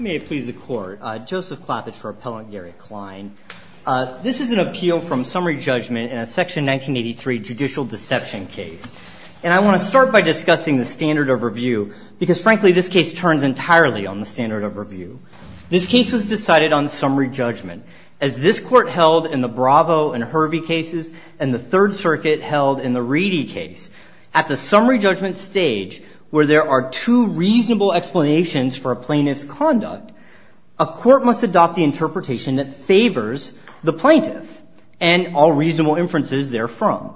May it please the court. Joseph Clappage for Appellant Gary Klein. This is an appeal from summary judgment in a section 1983 judicial deception case and I want to start by discussing the standard of review because frankly this case turns entirely on the standard of review. This case was decided on summary judgment as this court held in the Bravo and Hervey cases and the Third Circuit held in the Reedy case. At the summary judgment stage where there are two reasonable explanations for a plaintiff's conduct, a court must adopt the interpretation that favors the plaintiff and all reasonable inferences therefrom.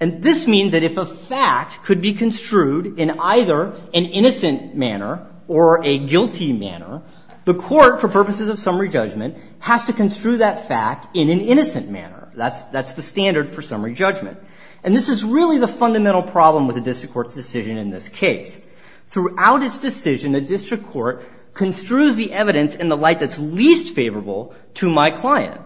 And this means that if a fact could be construed in either an innocent manner or a guilty manner, the court for purposes of summary judgment has to construe that fact in an innocent manner. That's the standard for summary judgment. And this is really the fundamental problem with the district court's decision in this case. Throughout its decision, the district court construes the evidence in the light that's least favorable to my client.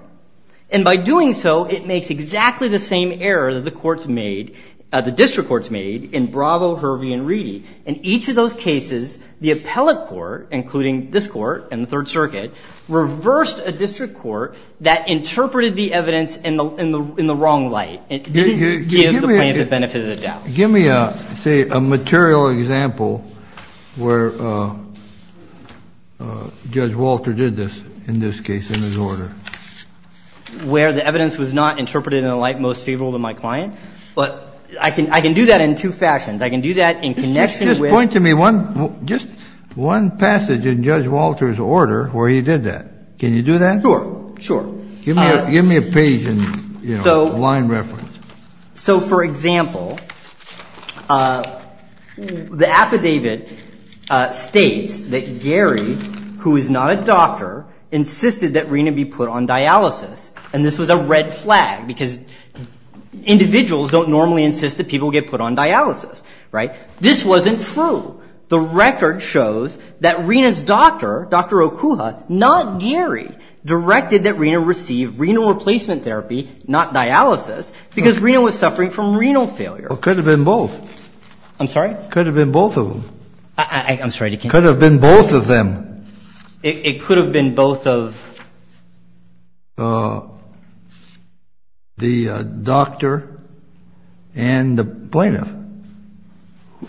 And by doing so, it makes exactly the same error that the courts made, the district courts made in Bravo, Hervey, and Reedy. In each of those cases, the appellate court, including this court and the Third Circuit, reversed a district court that interpreted the evidence in the wrong light and gave the plaintiff the benefit of the doubt. Give me, say, a material example where Judge Walter did this, in this case, in his order. Where the evidence was not interpreted in the light most favorable to my client? I can do that in two fashions. I can do that in connection with Just point to me one passage in Judge Walter's order where he did that. Can you do that? Sure. Sure. Give me a page in line reference. So for example, the affidavit states that Gary, who is not a doctor, insisted that Rina be put on dialysis. And this was a red flag because individuals don't normally insist that people get put on dialysis, right? This wasn't true. The record shows that Rina's doctor, Dr. Okuha, not Gary, directed that Rina receive renal replacement therapy, not because Rina was suffering from renal failure. Well, it could have been both. I'm sorry? It could have been both of them. I'm sorry. It could have been both of them. It could have been both of the doctor and the plaintiff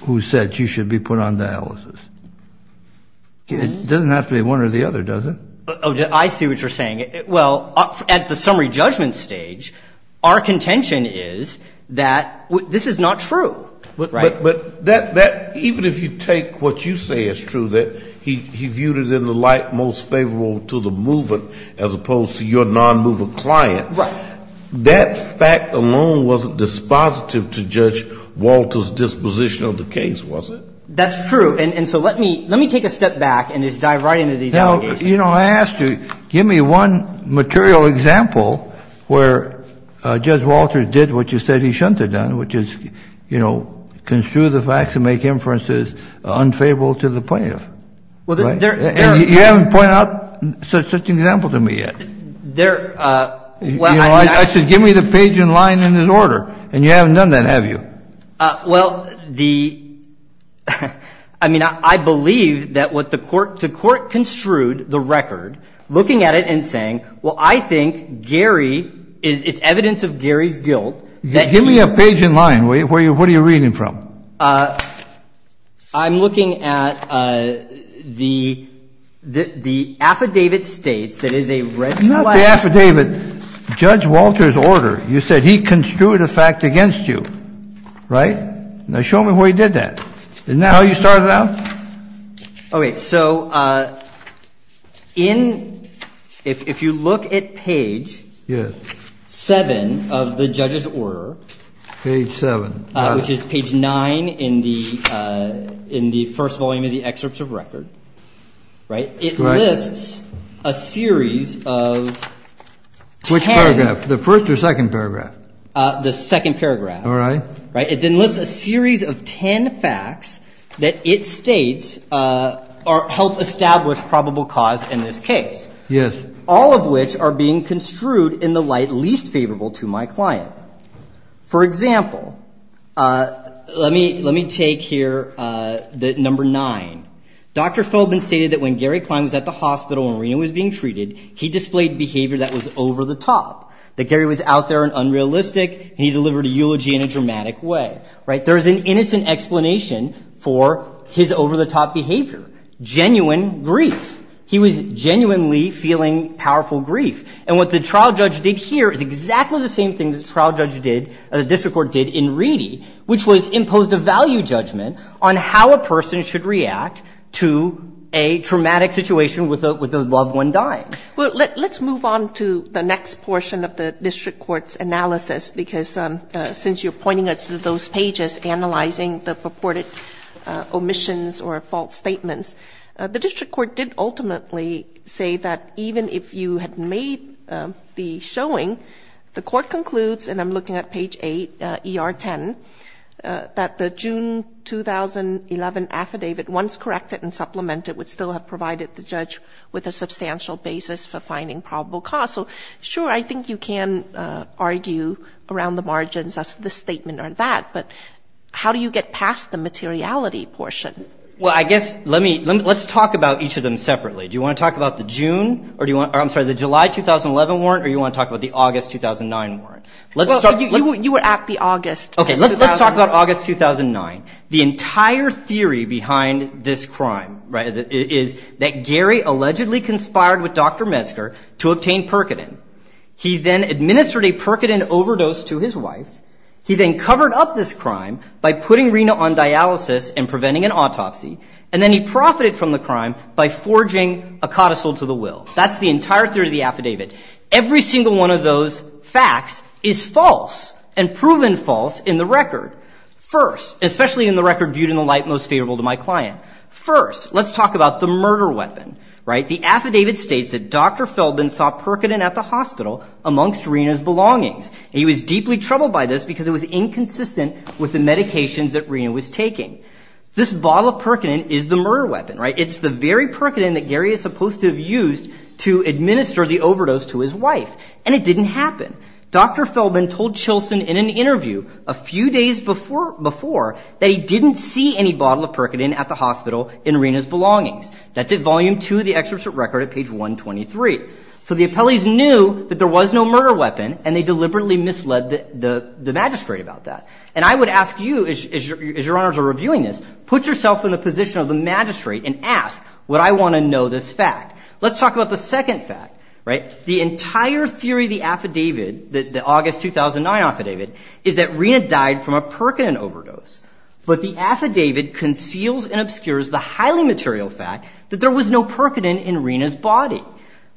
who said she should be put on dialysis. It doesn't have to be one or the other, does it? I see what you're saying. Well, at the summary judgment stage, our contention is that this is not true, right? But that, even if you take what you say is true, that he viewed it in the light most favorable to the movant as opposed to your non-movant client, that fact alone wasn't dispositive to Judge Walter's disposition of the case, was it? That's true. And so let me take a step back and just dive right into these allegations. You know, I asked you, give me one material example where Judge Walter did what you said he shouldn't have done, which is, you know, construe the facts and make inferences unfavorable to the plaintiff. Well, there are... And you haven't pointed out such an example to me yet. There are... You know, I said, give me the page in line and in order, and you haven't done that, have you? Well, the, I mean, I believe that what the court, the court construed the record, looking at it and saying, well, I think Gary is, it's evidence of Gary's guilt that he... Give me a page in line. Where are you, what are you reading from? I'm looking at the, the affidavit states that is a red flag... Right? Now show me where you did that. Isn't that how you started out? Okay. So in, if you look at page seven of the judge's order... Page seven. Which is page nine in the, in the first volume of the excerpts of record, right? It lists a series of ten... Which paragraph? The first or second paragraph? The second paragraph. All right. Right? It then lists a series of ten facts that it states are, help establish probable cause in this case. Yes. All of which are being construed in the light least favorable to my client. For example, let me, let me take here the number nine. Dr. Philbin stated that when Gary Klein was at the hospital and Reno was being treated, he displayed behavior that was over the top, that Gary was out there and unrealistic and he delivered a eulogy in a dramatic way. Right? There's an innocent explanation for his over the top behavior. Genuine grief. He was genuinely feeling powerful grief. And what the trial judge did here is exactly the same thing the trial judge did, the district court did in Reedy, which was imposed a value judgment on how a person should react to a traumatic situation with a, with a loved one dying. Let's move on to the next portion of the district court's analysis, because since you're pointing us to those pages, analyzing the purported omissions or false statements, the district court did ultimately say that even if you had made the showing, the court concludes, and I'm looking at page eight, ER 10, that the June 2011 affidavit, once corrected and the June 2011 warrant, or do you want to talk about the August 2009 warrant? Let's talk about August 2009. The entire theory behind this crime, right, is that Gary allegedly conspired with Dr. Metzger to obtain Percodin. He then administered a Percodin overdose to his wife. He then covered up this crime by putting Rena on dialysis and preventing an autopsy. And then he profited from the crime by forging a codicil to the will. That's the entire theory of the affidavit. Every single one of those facts is false and proven false in the record. First, especially in the record viewed in the light most favorable to my client. First, let's talk about the murder weapon, right? The affidavit states that Dr. Feldman saw Percodin at the hospital amongst Rena's belongings. He was deeply troubled by this because it was inconsistent with the medications that Rena was taking. This bottle of Percodin is the murder weapon, right? It's the very Percodin that Gary is supposed to have used to administer the overdose to his wife. And it didn't happen. Dr. Feldman told Chilson in an interview a few days before that he didn't see any bottle of Percodin at the hospital in Rena's belongings. That's at volume two of the excerpt from the record at page 123. So the appellees knew that there was no murder weapon and they deliberately misled the magistrate about that. And I would ask you, as your honors are reviewing this, put yourself in the position of the magistrate and ask, would I want to know this fact? Let's talk about the second fact, right? The entire theory of the affidavit, the August 2009 affidavit, is that Rena died from a Percodin overdose. But the affidavit conceals and obscures the highly material fact that there was no Percodin in Rena's body.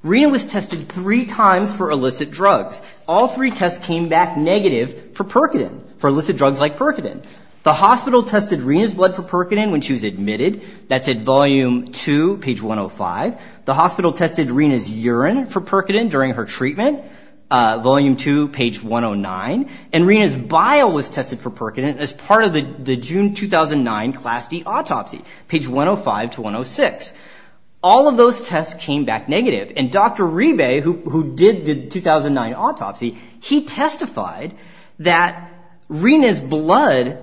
Rena was tested three times for illicit drugs. All three tests came back negative for Percodin, for illicit drugs like Percodin. The hospital tested Rena's blood for Percodin when she was admitted. That's at volume two, page 105. The hospital tested Rena's urine for Percodin during her treatment, volume two, page 109. And Rena's bile was tested for Percodin as part of the June 2009 Class D autopsy, page 105 to 106. All of those tests came back negative. And Dr. Ribe, who did the 2009 autopsy, he testified that Rena's blood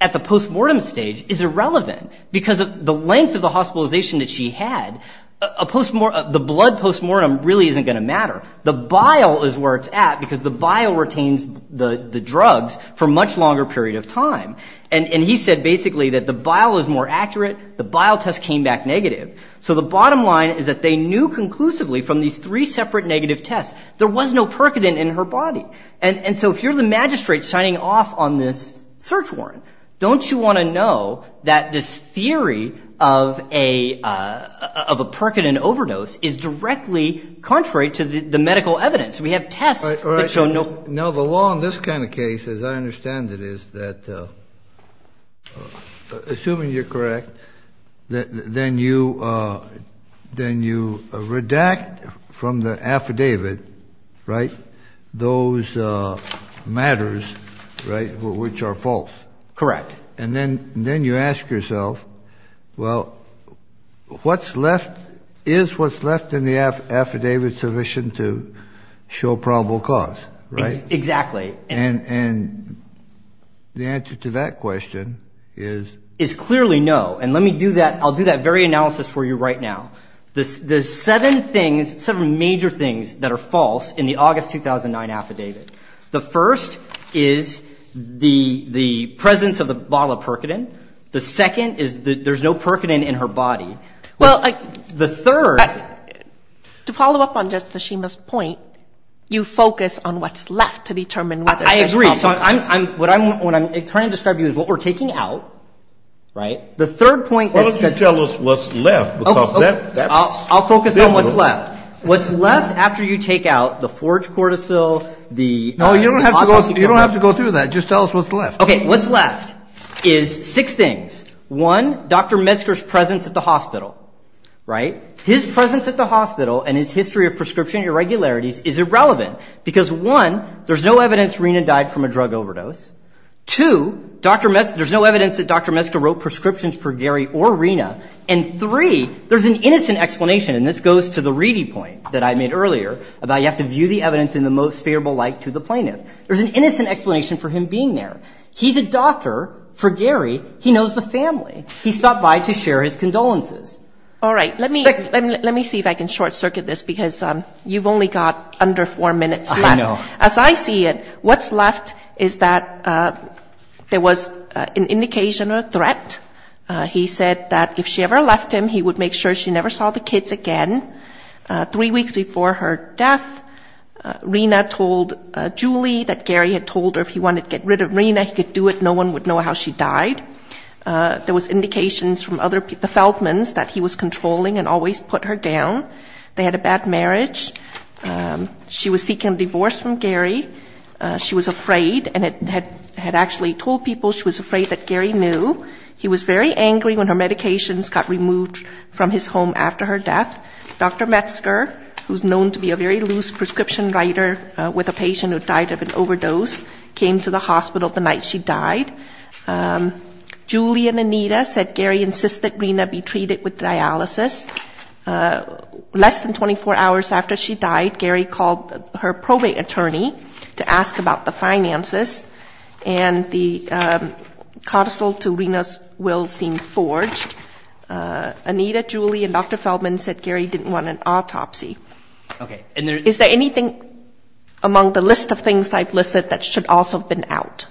at the postmortem stage is irrelevant because of the length of the hospitalization that she had. The blood postmortem really isn't going to matter. The bile is where it's at because the bile retains the drugs for much longer period of time. And he said basically that the bile is more accurate. The bile test came back negative. So the bottom line is that they knew conclusively from these three separate negative tests there was no Percodin in her body. And so if you're the magistrate signing off on this search warrant, don't you want to know that this theory of a Percodin overdose is directly contrary to the medical evidence? We have tests that show no- All right. Now, the law in this kind of case, as I understand it, is that assuming you're right, which are false. Correct. And then you ask yourself, well, is what's left in the affidavit sufficient to show probable cause, right? Exactly. And the answer to that question is- Is clearly no. And let me do that. I'll do that very analysis for you right now. There's seven things, seven major things that are false in the August 2009 affidavit. The first is the presence of the bottle of Percodin. The second is that there's no Percodin in her body. Well, I- The third- To follow up on Judge Tashima's point, you focus on what's left to determine whether- I agree. So what I'm trying to describe to you is what we're taking out, right? The third point- Why don't you tell us what's left? Because that's- I'll focus on what's left. What's left after you take out the forged cortisol, the- No, you don't have to go through that. Just tell us what's left. Okay. What's left is six things. One, Dr. Metzger's presence at the hospital, right? His presence at the hospital and his history of prescription irregularities is irrelevant. Because one, there's no evidence Rena died from a drug overdose. Two, there's no evidence that Dr. Metzger wrote prescriptions for and this goes to the reading point that I made earlier about you have to view the evidence in the most favorable light to the plaintiff. There's an innocent explanation for him being there. He's a doctor for Gary. He knows the family. He stopped by to share his condolences. All right. Let me- Let me see if I can short circuit this because you've only got under four minutes left. I know. As I see it, what's left is that there was an indication of a threat. He said that if she never saw the kids again, three weeks before her death, Rena told Julie that Gary had told her if he wanted to get rid of Rena, he could do it. No one would know how she died. There was indications from other- the Feldmans that he was controlling and always put her down. They had a bad marriage. She was seeking a divorce from Gary. She was afraid and had actually told people she was afraid that Gary knew. He was very angry when her medications got removed from his home after her death. Dr. Metzger, who's known to be a very loose prescription writer with a patient who died of an overdose, came to the hospital the night she died. Julie and Anita said Gary insisted Rena be treated with dialysis. Less than 24 hours after she died, Gary called her probate attorney to ask about the finances, and the counsel to Rena's will seemed forged. Anita, Julie, and Dr. Feldman said Gary didn't want an autopsy. Is there anything among the list of things I've listed that should also have been out?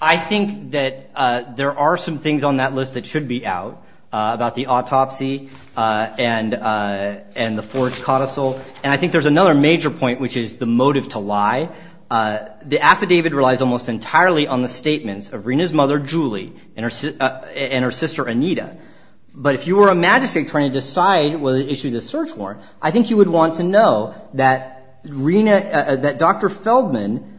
I think that there are some things on that list that should be out about the autopsy and the forged codicil, and I think there's another major point, which is the motive to lie. The affidavit relies almost entirely on the statements of Rena's mother, Julie, and her sister, Anita. But if you were a magistrate trying to decide whether to issue the search warrant, I think you would want to know that Dr. Feldman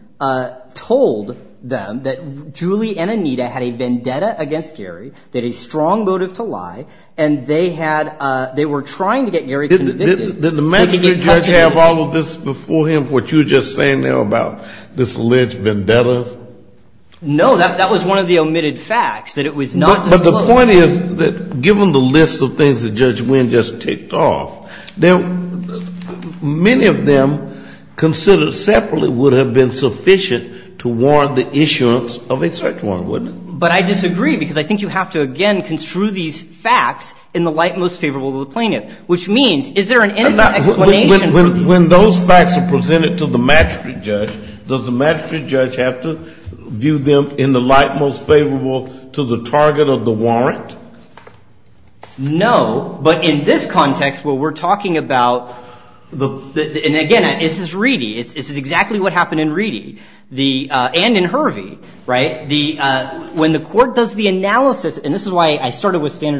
told them that Julie and Anita had a vendetta against Gary, they had a strong motive to lie, and they were trying to get Gary convicted. Did the magistrate judge have all of this before him, what you were just saying there about this alleged vendetta? No, that was one of the omitted facts, that it was not disclosed. But the point is that given the list of things that Judge Winn just ticked off, many of them considered separately would have been sufficient to warrant the issuance of a search warrant, wouldn't it? But I disagree, because I think you have to again construe these facts in the light most favorable to the plaintiff, which means is there an explanation for this? When those facts are presented to the magistrate judge, does the magistrate judge have to view them in the light most favorable to the target of the warrant? No, but in this context where we're talking about, and again, this is exactly what happened in Reedy and in Hervey, right? When the court does the analysis, and this is why I started with there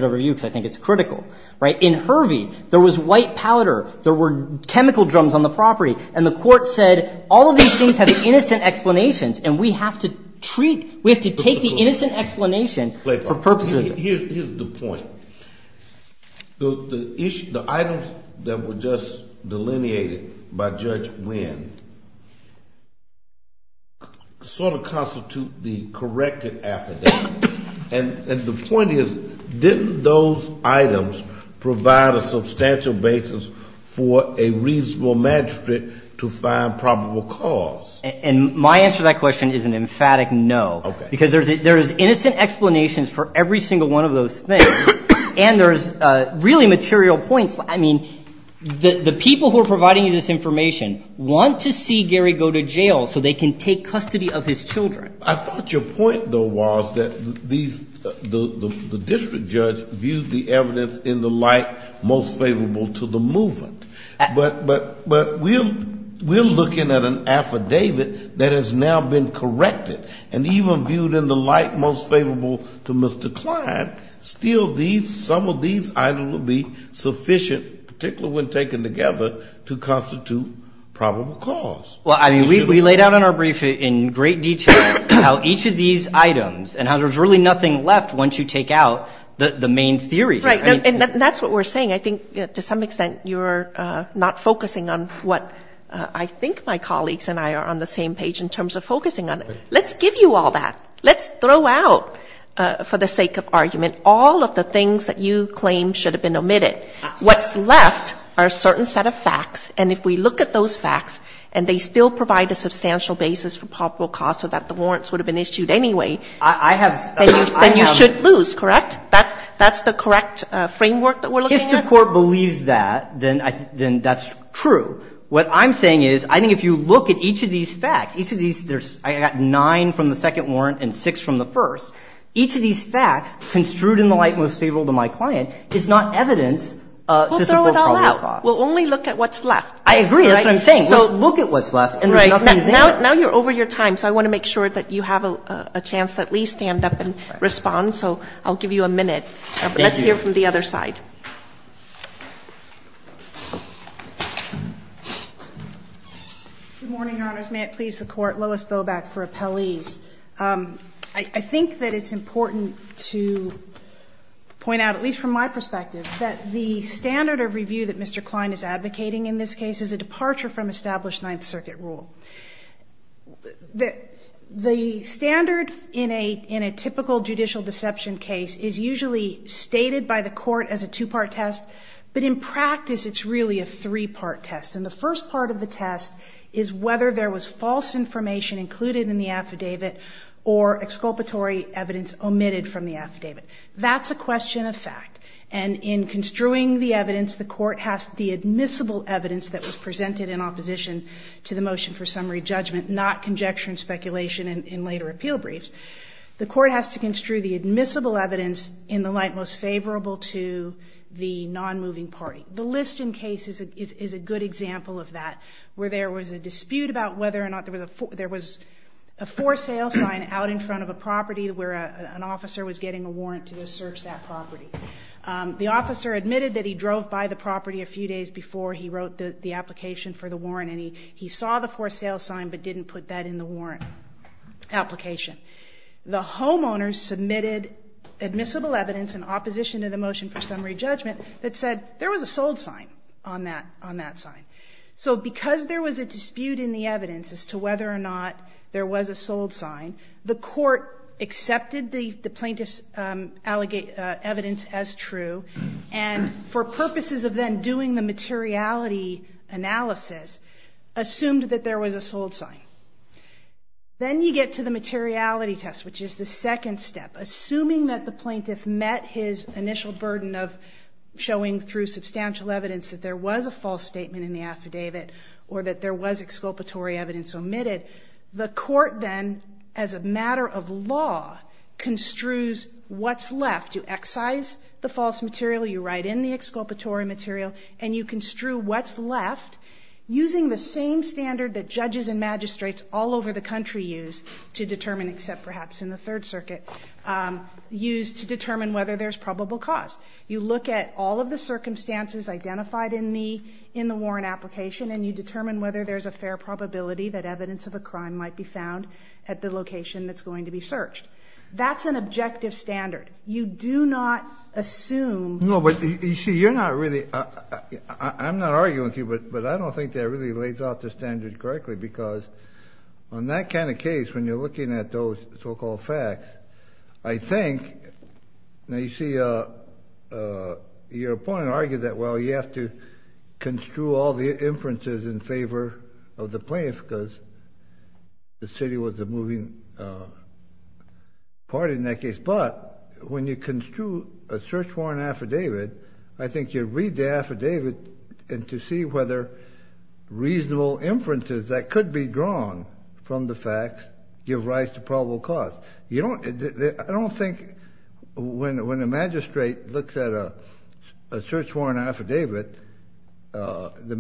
were chemical drums on the property, and the court said all of these things have innocent explanations, and we have to take the innocent explanation for purposes of this. Here's the point. The items that were just delineated by Judge Winn sort of constitute the corrected affidavit. And the point is, didn't those items provide a substantial basis for a reasonable magistrate to find probable cause? And my answer to that question is an emphatic no, because there's innocent explanations for every single one of those things, and there's really material points. I mean, the people who are providing you this information want to see Gary go to jail so they can take custody of his children. I thought your point, though, was that the district judge viewed the evidence in the light most favorable to the movement. But we're looking at an affidavit that has now been corrected, and even viewed in the light most favorable to Mr. Klein, still some of these items will be sufficient, particularly when taken together, to constitute probable cause. Well, I mean, we laid out in our brief in great detail how each of these items and how there's really nothing left once you take out the main theory here. And that's what we're saying. I think to some extent you're not focusing on what I think my colleagues and I are on the same page in terms of focusing on. Let's give you all that. Let's throw out, for the sake of argument, all of the things that you claim should have been omitted. What's left are a certain set of facts, and if we look at those facts and they still provide a substantial basis for probable cause so that the warrants would have been issued anyway, then you should lose, correct? That's the correct framework that we're looking at? If the Court believes that, then that's true. What I'm saying is, I think if you look at each of these facts, each of these, I got nine from the second warrant and six from the first, each of these facts construed in the light most favorable to my client is not evidence to support probable cause. We'll throw it all out. We'll only look at what's left. I agree. That's what I'm saying. Let's look at what's left and there's nothing to do. Right. Now you're over your time, so I want to make sure that you have a chance to at Good morning, Your Honors. May it please the Court. Lois Bobak for appellees. I think that it's important to point out, at least from my perspective, that the standard of review that Mr. Klein is advocating in this case is a departure from established Ninth Circuit rule. The standard in a typical judicial deception case is usually stated by the Court as a two-part test, but in practice, it's really a three-part test. And the first part of the test is whether there was false information included in the affidavit or exculpatory evidence omitted from the affidavit. That's a question of fact. And in construing the evidence, the Court has the admissible evidence that was presented in opposition to the motion for summary judgment, not conjecture and speculation in later appeal briefs. The Court has to construe the admissible evidence in the light most favorable to the non-moving party. The Liston case is a good example of that, where there was a dispute about whether or not there was a for sale sign out in front of a property where an officer was getting a warrant to search that property. The officer admitted that he drove by the property a few days before he wrote the application for the warrant, and he saw the for sale sign but didn't put that in the warrant application. The homeowners submitted admissible evidence in opposition to the motion for summary judgment that said there was a sold sign on that sign. So because there was a dispute in the evidence as to whether or not there was a sold sign, the Court accepted the plaintiff's evidence as true, and for purposes of then the materiality analysis, assumed that there was a sold sign. Then you get to the materiality test, which is the second step. Assuming that the plaintiff met his initial burden of showing through substantial evidence that there was a false statement in the affidavit or that there was exculpatory evidence omitted, the Court then, as a matter of law, construes what's left. You excise the false material. You write in the exculpatory material, and you construe what's left using the same standard that judges and magistrates all over the country use to determine, except perhaps in the Third Circuit, use to determine whether there's probable cause. You look at all of the circumstances identified in the warrant application, and you determine whether there's a fair probability that evidence of a crime might be found at the location that's going to be searched. That's an objective standard. You do not assume— No, but you see, you're not really—I'm not arguing with you, but I don't think that really lays out the standard correctly, because on that kind of case, when you're looking at those so-called facts, I think—now, you see, your opponent argued that, well, you have to construe all the inferences in favor of the plaintiff because the city was a moving party in that case, but when you construe a search warrant affidavit, I think you read the affidavit to see whether reasonable inferences that could be drawn from the facts give rise to probable cause. You don't—I don't think when a magistrate looks at a search warrant affidavit, the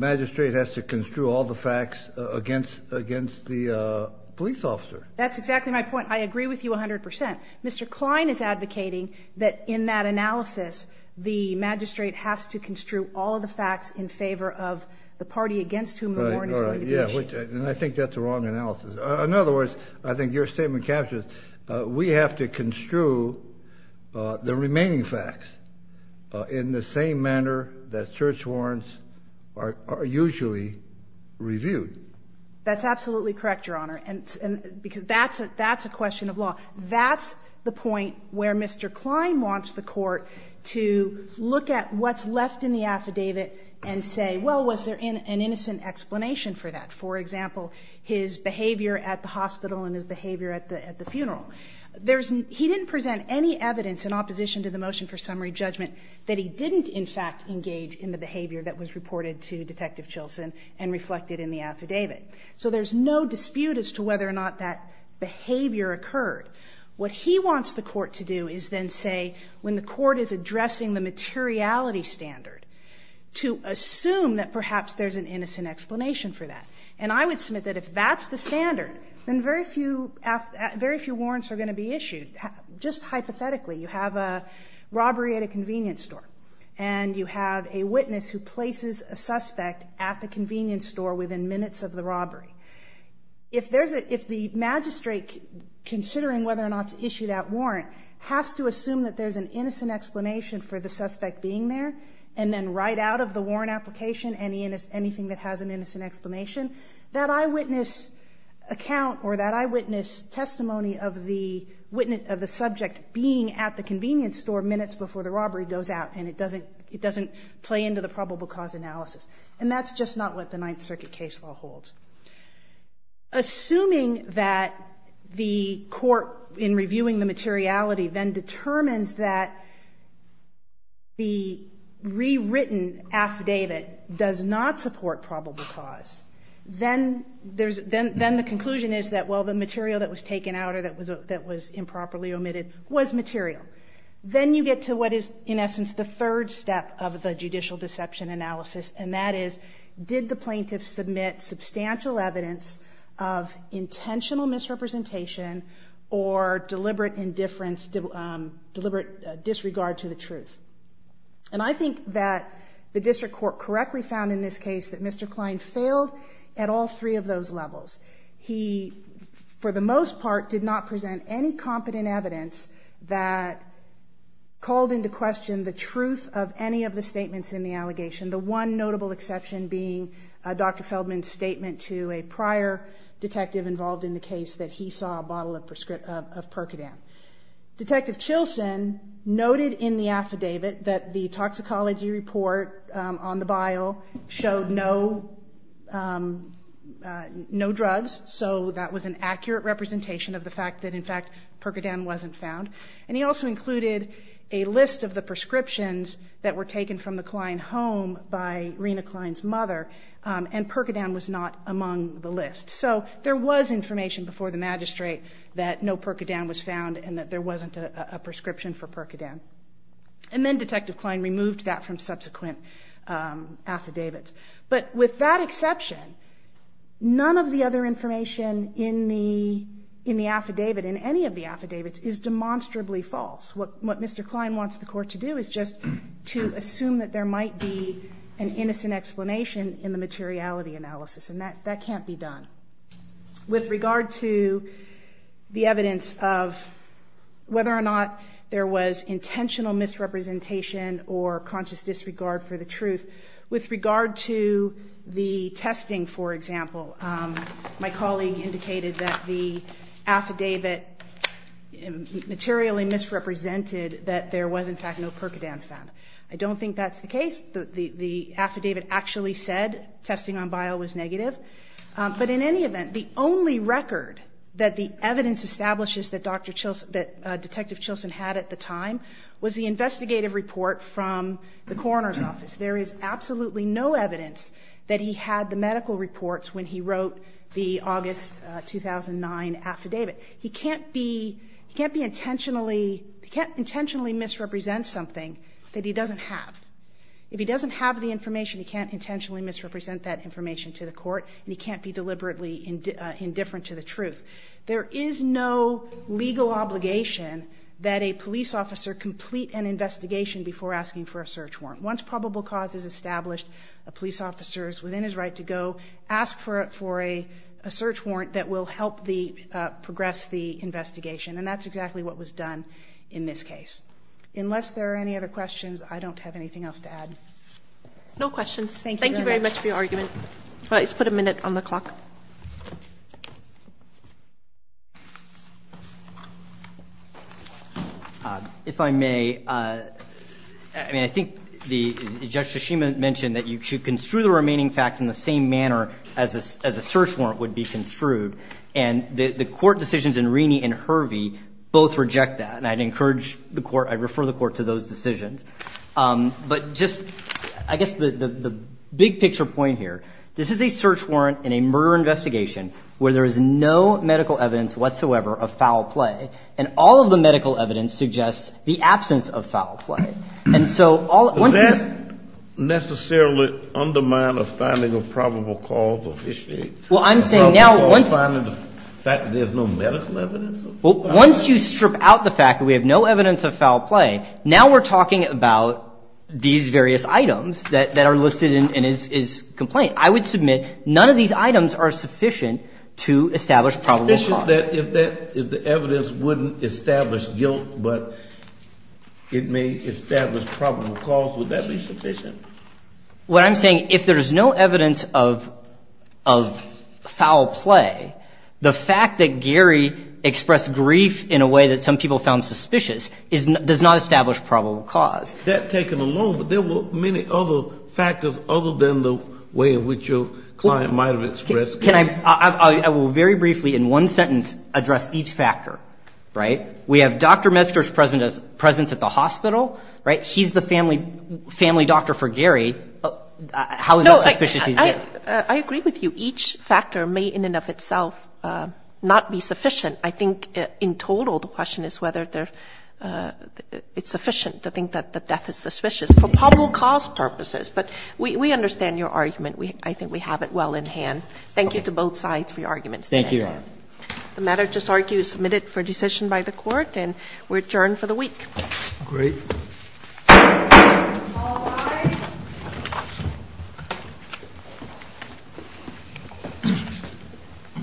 That's exactly my point. I agree with you 100 percent. Mr. Klein is advocating that in that analysis, the magistrate has to construe all of the facts in favor of the party against whom the warrant is going to be issued. And I think that's a wrong analysis. In other words, I think your statement captures it. We have to construe the remaining facts in the same manner that search warrants are usually reviewed. That's absolutely correct, Your Honor. Because that's a question of law. That's the point where Mr. Klein wants the Court to look at what's left in the affidavit and say, well, was there an innocent explanation for that? For example, his behavior at the hospital and his behavior at the funeral. He didn't present any evidence in opposition to the motion for summary judgment that he didn't, in fact, engage in the behavior that was reported to Detective Chilson and reflected in the affidavit. So there's no dispute as to whether or not that behavior occurred. What he wants the Court to do is then say, when the Court is addressing the materiality standard, to assume that perhaps there's an innocent explanation for that. And I would submit that if that's the standard, then very few warrants are going to be issued. Just hypothetically, you have a robbery at a convenience store and you have a witness who places a suspect at the convenience store within minutes of the robbery. If the magistrate, considering whether or not to issue that warrant, has to assume that there's an innocent explanation for the suspect being there and then write out of the warrant application anything that has an innocent explanation, that eyewitness account or that eyewitness testimony of the subject being at the convenience store minutes before the probable cause analysis. And that's just not what the Ninth Circuit case law holds. Assuming that the Court, in reviewing the materiality, then determines that the rewritten affidavit does not support probable cause, then the conclusion is that, well, the material that was taken out or that was improperly omitted was material. Then you get to what is, in essence, the third step of the judicial deception analysis, and that is, did the plaintiff submit substantial evidence of intentional misrepresentation or deliberate disregard to the truth? And I think that the district court correctly found in this case that Mr. Klein failed at all three of those levels. He, for the most part, did not present any competent evidence that called into question the truth of any of the statements in the allegation, the one notable exception being Dr. Feldman's statement to a prior detective involved in the case that he saw a bottle of Percodan. Detective Chilson noted in the affidavit that the toxicology report on the bio showed no drugs, so that was an accurate representation of the fact that, in fact, Percodan wasn't found, and he also included a list of the prescriptions that were taken from the Klein home by Rena Klein's mother, and Percodan was not among the list. So there was information before the magistrate that no Percodan was found and that there wasn't a prescription for Percodan. And then Detective Klein removed that from subsequent affidavits. But with that exception, none of the other information in the affidavit, in any of the affidavits, is demonstrably false. What Mr. Klein wants the court to do is just to assume that there might be an innocent explanation in the materiality analysis, and that can't be done. With regard to the evidence of whether or not there was intentional misrepresentation or conscious disregard for the truth, with regard to the testing, for example, my colleague indicated that the affidavit materially misrepresented that there was, in fact, no Percodan found. I don't think that's the case. The affidavit actually said testing on bio was negative. But in any event, the only record that the evidence establishes that Detective Chilson had at the time was the investigative report from the coroner's office. There is absolutely no evidence that he had the medical reports when he wrote the August 2009 affidavit. He can't intentionally misrepresent something that he doesn't have. If he doesn't have the information, he can't intentionally misrepresent that information to the court, and he can't be deliberately indifferent to the truth. There is no legal obligation that a police officer complete an investigation before asking for a search warrant. Once probable cause is established, a police officer is within his right to go, ask for a search warrant that will help progress the investigation. And that's exactly what was done in this case. Unless there are any other questions, I don't have anything else to add. MS. NAHID BHADELIA. No questions. Thank you very much for your argument. All right. Let's put a minute on the clock. MR. If I may, I mean, I think Judge Tsushima mentioned that you should construe the remaining facts in the same manner as a search warrant would be construed, and the court decisions in Rini and Hervey both reject that. And I'd encourage the court, I'd refer the court to those decisions. But just, I guess, the big-picture point here, this is a search warrant in a murder investigation where there is no medical evidence whatsoever of foul play, and all of the medical evidence suggests the absence of foul play. And so, once this MR. Is that necessarily undermined of finding a probable cause of issue? Well, I'm saying now, once MR. A probable cause, finding the fact that there's no medical evidence of foul play? MR. Well, once you strip out the fact that we have no evidence of foul play, now we're talking about these various items that are listed in his complaint. I would submit none of these items are sufficient to establish probable cause. Sufficient that if the evidence wouldn't establish guilt, but it may establish probable cause, would that be sufficient? What I'm saying, if there is no evidence of foul play, the fact that Gary expressed grief in a way that some people found suspicious does not establish probable cause. That taken alone, but there were many other factors other than the way in which your client might have expressed guilt. Can I, I will very briefly, in one sentence, address each factor, right? We have Dr. Metzger's presence at the hospital, right? He's the family doctor for Gary. How is that suspicious to you? I agree with you. Each factor may, in and of itself, not be sufficient. I think in total, the question is whether it's sufficient to think that the death is suspicious for probable cause purposes. But we understand your argument. I think we have it well in hand. Thank you to both sides for your arguments. Thank you, Your Honor. The matter, I just argue, is submitted for decision by the Court, and we're adjourned for the week. Great.